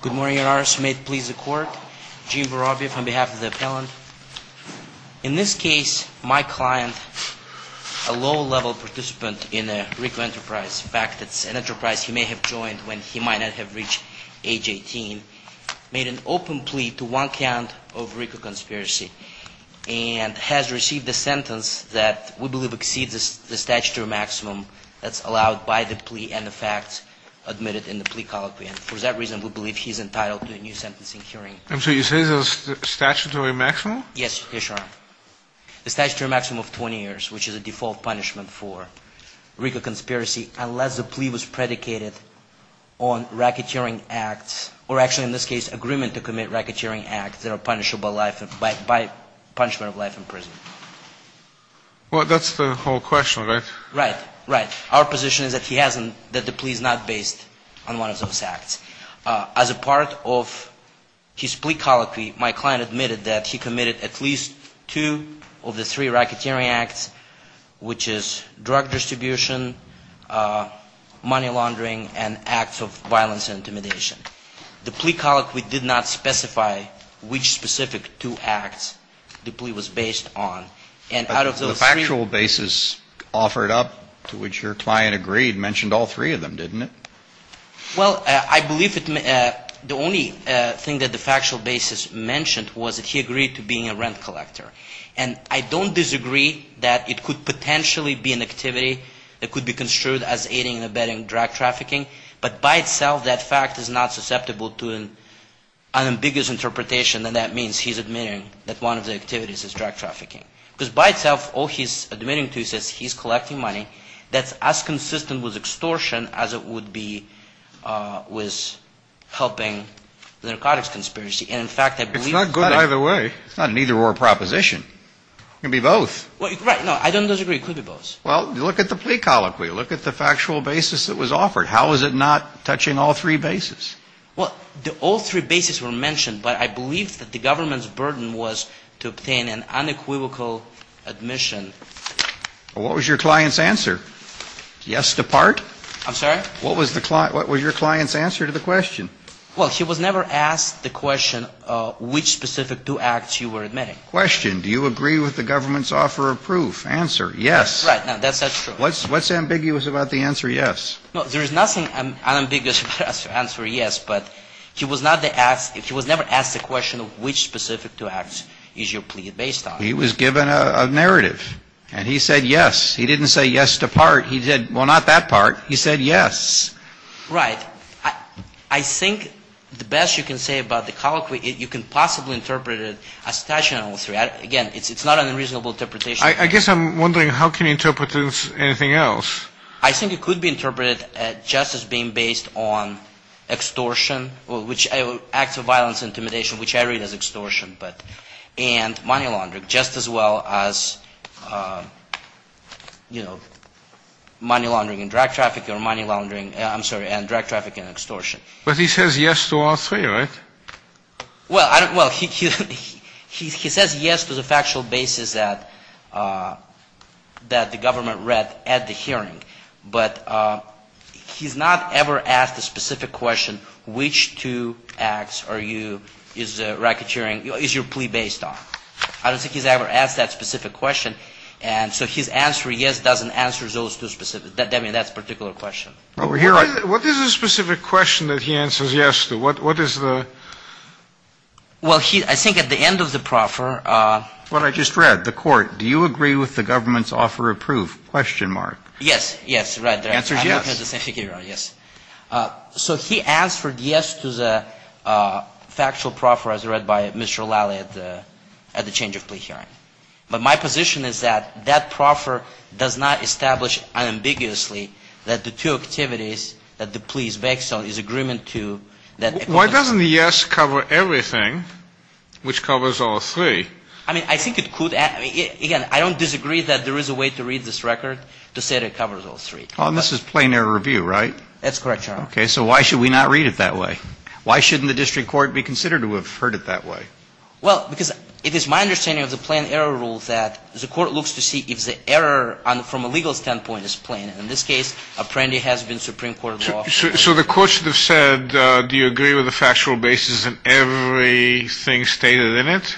Good morning, your honors. May it please the court. Gene Voroviev on behalf of the appellant. In this case, my client, a low-level participant in a RICO enterprise, in fact, it's an enterprise he may have joined when he might not have reached age 18, made an open plea to one count of RICO conspiracy and has received a sentence that we believe exceeds the statutory maximum that's allowed by the plea and the facts admitted in the plea colloquy and for that reason we believe he's entitled to a new sentencing hearing. And so you say it's a statutory maximum? Yes, your honor. The statutory maximum of 20 years, which is a default punishment for RICO conspiracy unless the plea was predicated on racketeering acts or actually in this case agreement to commit racketeering acts that are punishable by punishment of life in prison. Well, that's the whole question, right? Right, right. Our position is that the plea is not based on one of those acts. As a part of his plea colloquy, my client admitted that he committed at least two of the three racketeering acts, which is drug distribution, money laundering, and acts of violence and intimidation. The plea colloquy did not specify which specific two acts the plea was based on. But the factual basis offered up to which your client agreed mentioned all three of them, didn't it? Well, I believe the only thing that the factual basis mentioned was that he agreed to being a rent collector. And I don't disagree that it could potentially be an activity that could be construed as aiding and abetting drug trafficking, but by itself that fact is not susceptible to an ambiguous interpretation and that means he's admitting that one of the activities is drug trafficking. Because by itself all he's admitting to is that he's collecting money that's as consistent with extortion as it would be with helping the narcotics conspiracy. And in fact, I believe that it's not good either way. It's not an either-or proposition. It can be both. Right. No, I don't disagree. It could be both. Well, look at the plea colloquy. Look at the factual basis that was offered. How is it not touching all three bases? Well, all three bases were mentioned, but I believe that the government's burden was to obtain an unequivocal admission. What was your client's answer? Yes to part? I'm sorry? What was your client's answer to the question? Well, he was never asked the question which specific two acts you were admitting. Question. Do you agree with the government's offer of proof? Answer. Yes. Right. No, that's not true. What's ambiguous about the answer yes? No, there is nothing ambiguous about the answer yes, but he was never asked the question of which specific two acts is your plea based on. He was given a narrative, and he said yes. He didn't say yes to part. He said, well, not that part. He said yes. Right. I think the best you can say about the colloquy, you can possibly interpret it as touching all three. Again, it's not an unreasonable interpretation. I guess I'm wondering how can you interpret this as anything else? I think it could be interpreted just as being based on extortion, or which acts of violence, intimidation, which I read as extortion, and money laundering, just as well as, you know, money laundering and drug traffic, or money laundering, I'm sorry, and drug traffic and extortion. But he says yes to all three, right? Well, he says yes to the factual basis that the government read at the hearing. But he's not ever asked a specific question, which two acts are you, is racketeering, is your plea based on. I don't think he's ever asked that specific question. And so his answer yes doesn't answer those two specific, I mean, that particular question. What is the specific question that he answers yes to? What is the? Well, I think at the end of the proffer. What I just read, the court, do you agree with the government's offer of proof? Question mark. Yes. Yes. Right. The answer is yes. Yes. So he answered yes to the factual proffer as read by Mr. O'Leary at the change of plea hearing. But my position is that that proffer does not establish unambiguously that the two activities that the plea is based on is agreement to that. Why doesn't the yes cover everything, which covers all three? I mean, I think it could. Again, I don't disagree that there is a way to read this record to say that it covers all three. This is plain error review, right? That's correct, Your Honor. Okay. So why should we not read it that way? Why shouldn't the district court be considered to have heard it that way? Well, because it is my understanding of the plain error rule that the court looks to see if the error from a legal standpoint is plain. In this case, Apprendi has been Supreme Court law. So the court should have said, do you agree with the factual basis and everything stated in it?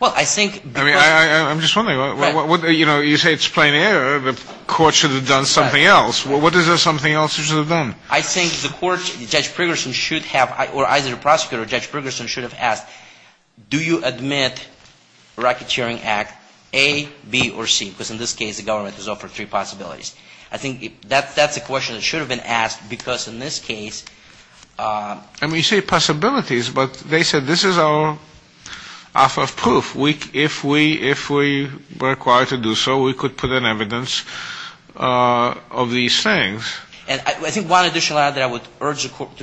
Well, I think the court — I mean, I'm just wondering. You know, you say it's plain error. The court should have done something else. What is there something else it should have done? I think the court, Judge Pregerson should have — or either the prosecutor or Judge Pregerson should have asked, do you admit a racketeering act, A, B, or C? Because in this case, the government has offered three possibilities. I think that's a question that should have been asked because in this case — I mean, you say possibilities, but they said this is our alpha proof. If we were required to do so, we could put in evidence of these things. And I think one additional item that I would urge the court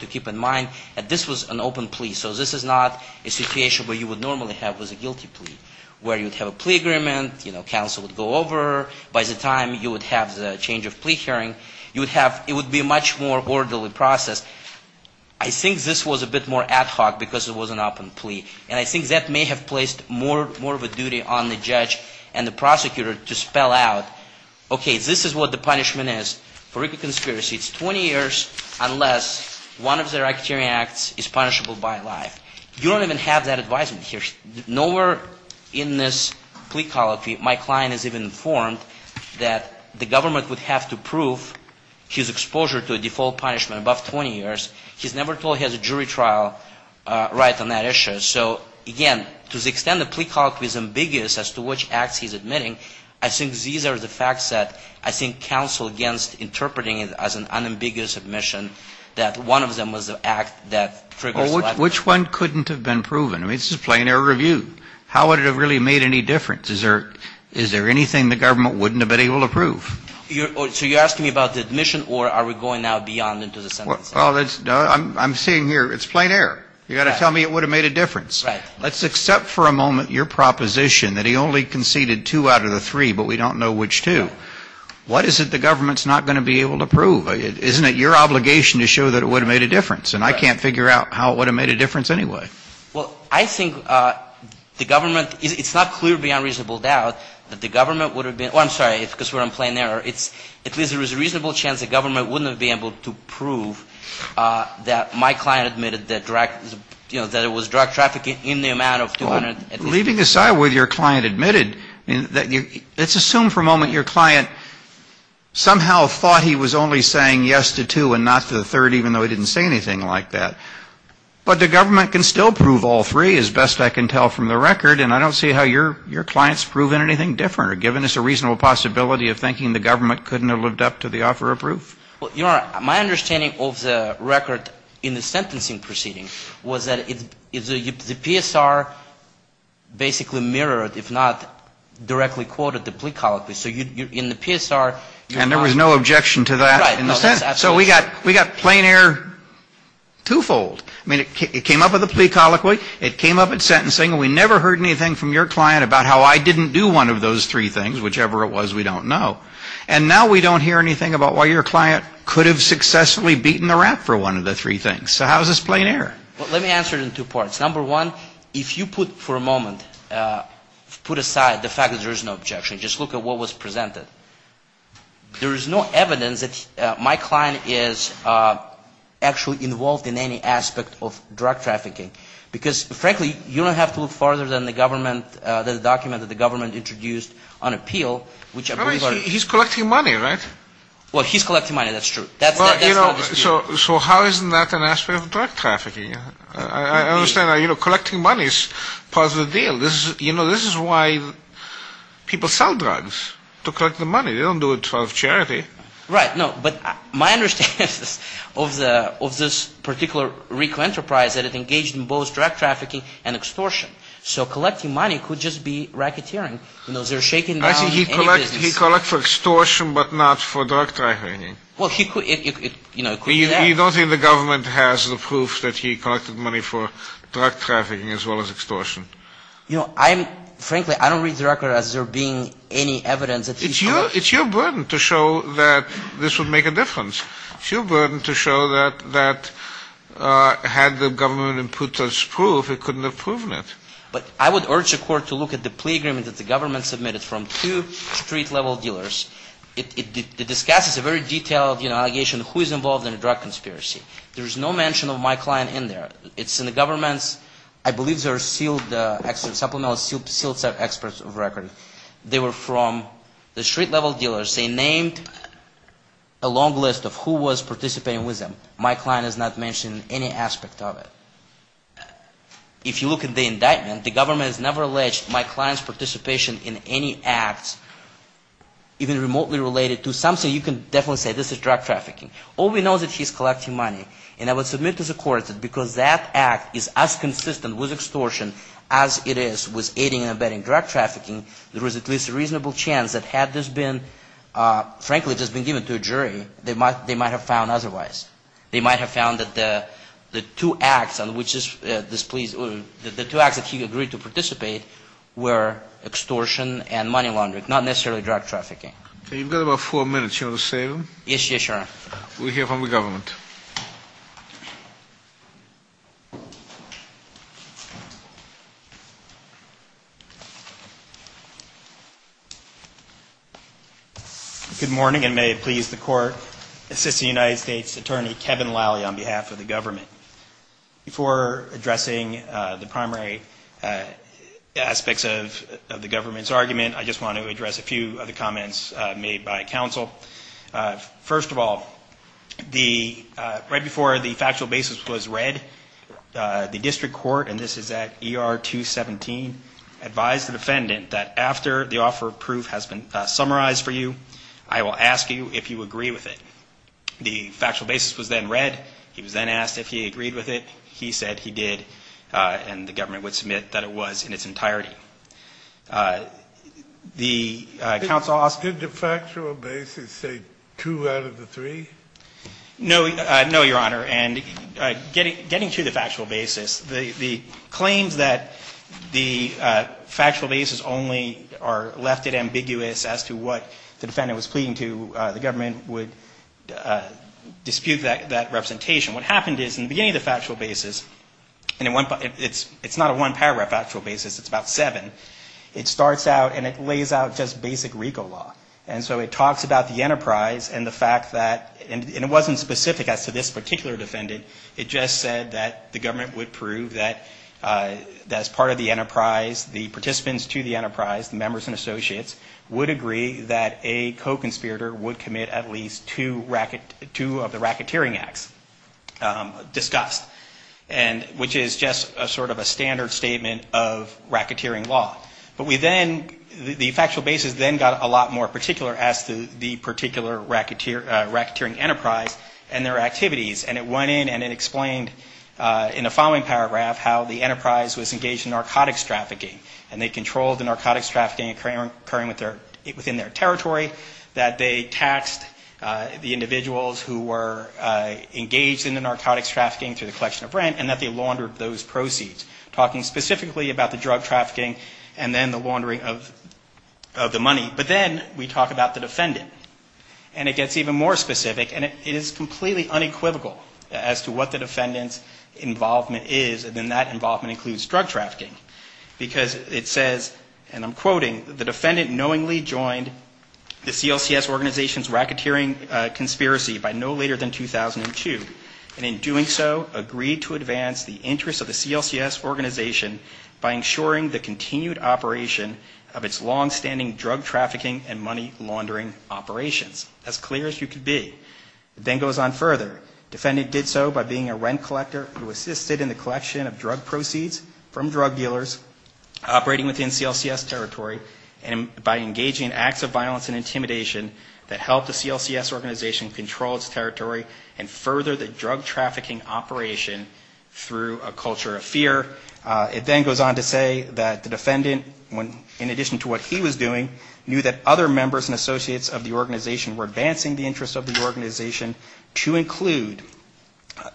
to keep in mind, that this was an open plea. So this is not a situation where you would normally have with a guilty plea, where you would have a plea agreement, you know, counsel would go over. By the time you would have the change of plea hearing, you would have — it would be a much more orderly process. I think this was a bit more ad hoc because it was an open plea. And I think that may have placed more of a duty on the judge and the prosecutor to spell out, okay, this is what the punishment is. For a conspiracy, it's 20 years unless one of the racketeering acts is punishable by life. You don't even have that advisement here. Nowhere in this plea colloquy my client is even informed that the government would have to prove his exposure to a default punishment above 20 years. He's never told he has a jury trial right on that issue. So, again, to the extent the plea colloquy is ambiguous as to which acts he's admitting, I think these are the facts that I think counsel against interpreting it as an unambiguous admission that one of them was an act that triggers life. Well, which one couldn't have been proven? I mean, this is a plain air review. How would it have really made any difference? Is there anything the government wouldn't have been able to prove? So you're asking me about the admission or are we going now beyond into the sentence? Well, I'm saying here it's plain air. You've got to tell me it would have made a difference. Right. Let's accept for a moment your proposition that he only conceded two out of the three, but we don't know which two. What is it the government's not going to be able to prove? Isn't it your obligation to show that it would have made a difference? And I can't figure out how it would have made a difference anyway. Well, I think the government, it's not clear beyond reasonable doubt that the government would have been, oh, I'm sorry, because we're on plain air. At least there was a reasonable chance the government wouldn't have been able to prove that my client admitted that it was drug trafficking in the amount of 200. Leaving aside whether your client admitted, let's assume for a moment your client somehow thought he was only saying yes to two and not to the third, even though he didn't say anything like that. But the government can still prove all three, as best I can tell from the record, and I don't see how your client's proven anything different or given us a reasonable possibility of thinking the government couldn't have lived up to the offer of proof. My understanding of the record in the sentencing proceeding was that the PSR basically mirrored, if not directly quoted, the plea colloquy. So in the PSR. And there was no objection to that? Right. So we got plain air twofold. I mean, it came up with a plea colloquy. It came up at sentencing. We never heard anything from your client about how I didn't do one of those three things, whichever it was, we don't know. And now we don't hear anything about why your client could have successfully beaten the rat for one of the three things. So how is this plain air? Let me answer it in two parts. Number one, if you put for a moment, put aside the fact that there is no objection, just look at what was presented. There is no evidence that my client is actually involved in any aspect of drug trafficking. Because, frankly, you don't have to look further than the government, the document that the government introduced on appeal. He's collecting money, right? Well, he's collecting money, that's true. So how is that an aspect of drug trafficking? I understand collecting money is part of the deal. You know, this is why people sell drugs, to collect the money. They don't do it out of charity. Right. No, but my understanding is of this particular RICO enterprise that it engaged in both drug trafficking and extortion. So collecting money could just be racketeering. You know, they're shaking down any business. I think he collected for extortion but not for drug trafficking. Well, he could, you know, it could be that. You know, I'm, frankly, I don't read the record as there being any evidence. It's your burden to show that this would make a difference. It's your burden to show that had the government put this proof, it couldn't have proven it. But I would urge the court to look at the plea agreement that the government submitted from two street-level dealers. It discusses a very detailed, you know, allegation of who is involved in a drug conspiracy. There is no mention of my client in there. It's in the government's, I believe they're sealed, supplemental sealed set experts record. They were from the street-level dealers. They named a long list of who was participating with them. My client is not mentioned in any aspect of it. If you look at the indictment, the government has never alleged my client's participation in any acts, even remotely related to something, you can definitely say this is drug trafficking. All we know is that he's collecting money. And I would submit to the court that because that act is as consistent with extortion as it is with aiding and abetting drug trafficking, there was at least a reasonable chance that had this been, frankly, just been given to a jury, they might have found otherwise. They might have found that the two acts on which this plea, the two acts that he agreed to participate were extortion and money laundering, not necessarily drug trafficking. You've got about four minutes. You want to save them? Yes, yes, Your Honor. We'll hear from the government. Good morning, and may it please the court, Assistant United States Attorney Kevin Lally on behalf of the government. Before addressing the primary aspects of the government's argument, I just want to address a few of the comments made by counsel. First of all, right before the factual basis was read, the district court, and this is at ER 217, advised the defendant that after the offer of proof has been summarized for you, I will ask you if you agree with it. The factual basis was then read. He was then asked if he agreed with it. He said he did, and the government would submit that it was in its entirety. Did the factual basis say two out of the three? No, Your Honor. And getting to the factual basis, the claims that the factual basis only are left at ambiguous as to what the defendant was pleading to, the government would dispute that representation. What happened is in the beginning of the factual basis, and it's not a one-paragraph actual basis, it's about seven, it starts out and it lays out just basic RICO law. And so it talks about the enterprise and the fact that, and it wasn't specific as to this particular defendant, it just said that the government would prove that as part of the enterprise, the participants to the enterprise, the members and associates, would agree that a co-conspirator would commit at least two of the racketeering acts discussed, which is just sort of a standard statement of racketeering law. But we then, the factual basis then got a lot more particular as to the particular racketeering enterprise and their activities, and it went in and it explained in the following paragraph how the enterprise was engaged in narcotics trafficking, and they controlled the narcotics trafficking occurring within their territory, that they taxed the individuals who were engaged in the narcotics trafficking through the collection of rent, and that they laundered those proceeds, talking specifically about the drug trafficking and then the laundering of the money. But then we talk about the defendant, and it gets even more specific, and it is completely unequivocal as to what the defendant's involvement is, and then that involvement includes drug trafficking, because it says, and I'm quoting, the defendant knowingly joined the CLCS organization's racketeering conspiracy by no later than 2002, and in doing so, agreed to advance the interests of the CLCS organization by ensuring the continued operation of its longstanding drug trafficking and money laundering operations, as clear as you could be. It then goes on further. Defendant did so by being a rent collector who assisted in the collection of drug proceeds from drug dealers operating within CLCS territory, and by engaging in acts of violence and intimidation that helped the CLCS organization control its territory and further the drug trafficking operation through a culture of fear. It then goes on to say that the defendant, in addition to what he was doing, knew that other members and associates of the organization were advancing the interests of the organization to include,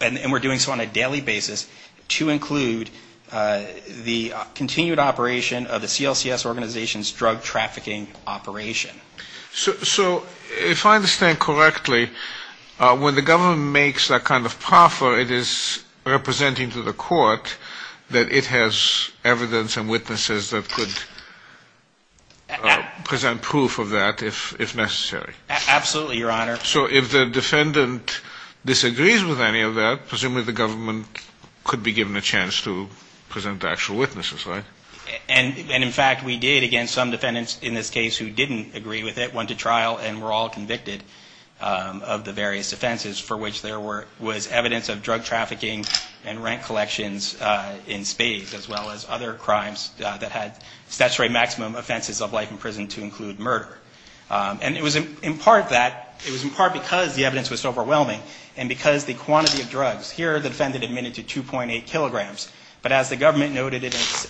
and were doing so on a daily basis, to include the continued operation of the CLCS organization's drug trafficking operation. So if I understand correctly, when the government makes that kind of proffer, it is representing to the court that it has evidence and witnesses that could present proof of that if necessary. Absolutely, Your Honor. So if the defendant disagrees with any of that, presumably the government could be given a chance to present actual witnesses, right? And, in fact, we did. Again, some defendants in this case who didn't agree with it went to trial and were all convicted of the various offenses for which there was evidence of drug trafficking and rent collections in spades, as well as other crimes that had statutory maximum offenses of life in prison to include murder. And it was in part that, it was in part because the evidence was overwhelming, and because the quantity of drugs, here the defendant admitted to 2.8 kilograms, but as the government noted in its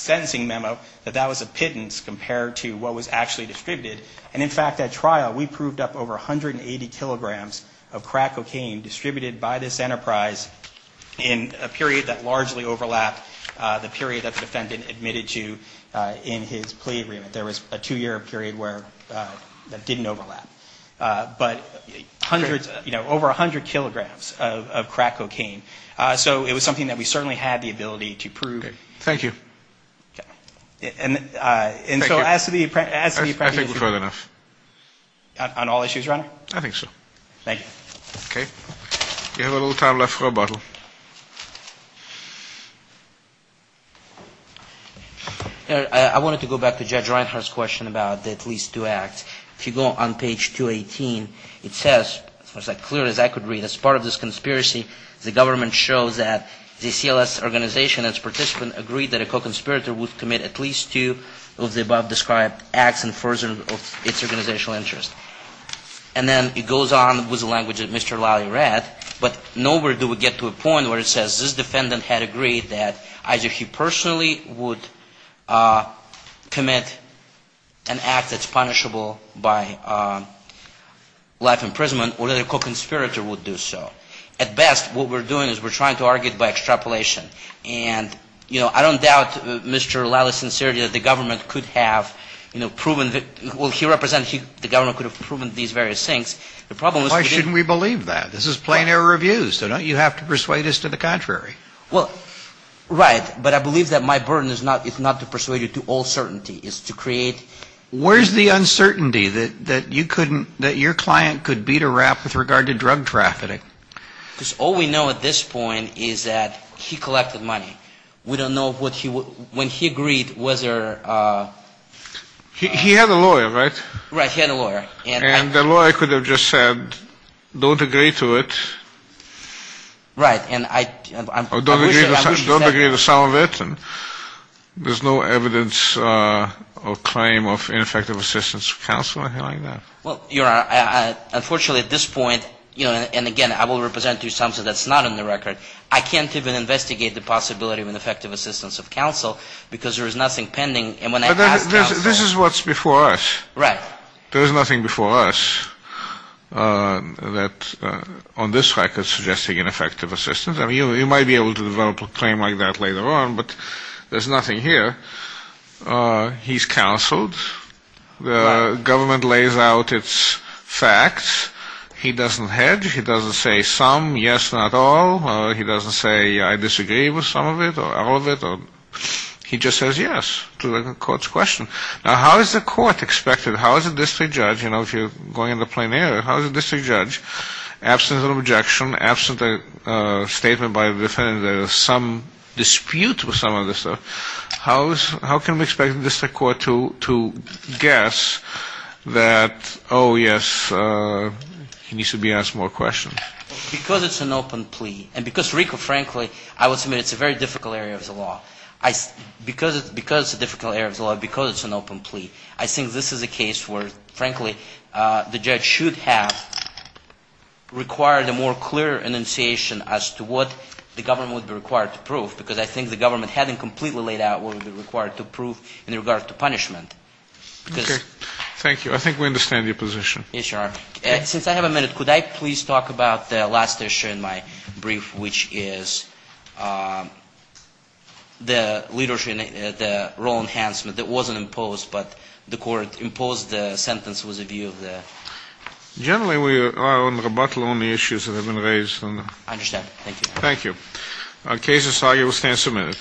sentencing memo, that that was a pittance compared to what was actually distributed. And, in fact, at trial we proved up over 180 kilograms of crack cocaine distributed by this enterprise in a period that largely overlapped the period that the defendant admitted to in his plea agreement. There was a two-year period where that didn't overlap. But hundreds, you know, over 100 kilograms of crack cocaine. So it was something that we certainly had the ability to prove. Thank you. And so as to the apprenticeship. I think we've heard enough. On all issues, Your Honor? I think so. Thank you. Okay. We have a little time left for a bottle. I wanted to go back to Judge Reinhart's question about the at least two acts. If you go on page 218, it says, as clear as I could read, and as part of this conspiracy, the government shows that the CLS organization and its participants agreed that a co-conspirator would commit at least two of the above-described acts in furtherance of its organizational interest. And then it goes on with the language that Mr. Lally read, but nowhere do we get to a point where it says this defendant had agreed that either he personally would commit an act that's punishable by life imprisonment or that a co-conspirator would do so. At best, what we're doing is we're trying to argue it by extrapolation. And, you know, I don't doubt Mr. Lally's sincerity that the government could have, you know, proven that he represented the government could have proven these various things. The problem is we didn't. Why shouldn't we believe that? This is plein air reviews, so don't you have to persuade us to the contrary? Well, right. But I believe that my burden is not to persuade you to all certainty. It's to create. Where's the uncertainty that you couldn't, that your client could beat a rap with regard to drug trafficking? Because all we know at this point is that he collected money. We don't know when he agreed whether. He had a lawyer, right? Right. He had a lawyer. And the lawyer could have just said, don't agree to it. Right. Don't agree to some of it. There's no evidence or claim of ineffective assistance of counsel or anything like that. Well, Your Honor, unfortunately at this point, you know, and again, I will represent to you something that's not in the record. I can't even investigate the possibility of ineffective assistance of counsel because there is nothing pending. And when I ask counsel. This is what's before us. Right. There is nothing before us on this record suggesting ineffective assistance. I mean, you might be able to develop a claim like that later on, but there's nothing here. He's counseled. The government lays out its facts. He doesn't hedge. He doesn't say some, yes, not all. He doesn't say I disagree with some of it or all of it. He just says yes to the court's question. Now, how is the court expected? How is a district judge, you know, if you're going in the plain air, how is a district judge, absent an objection, absent a statement by the defendant that there's some dispute with some of this stuff, how can we expect the district court to guess that, oh, yes, he needs to be asked more questions? Because it's an open plea. And because, Rico, frankly, I will submit it's a very difficult area of the law. Because it's a difficult area of the law, because it's an open plea, I think this is a case where, frankly, the judge should have required a more clear enunciation as to what the government would be required to prove. Because I think the government hadn't completely laid out what would be required to prove in regard to punishment. Okay. Thank you. I think we understand your position. Yes, Your Honor. Since I have a minute, could I please talk about the last issue in my brief, which is the role enhancement that wasn't imposed, but the court imposed the sentence with a view of the... Generally, we are on rebuttal on the issues that have been raised. I understand. Thank you. Thank you. Case is argued. We'll stand submitted.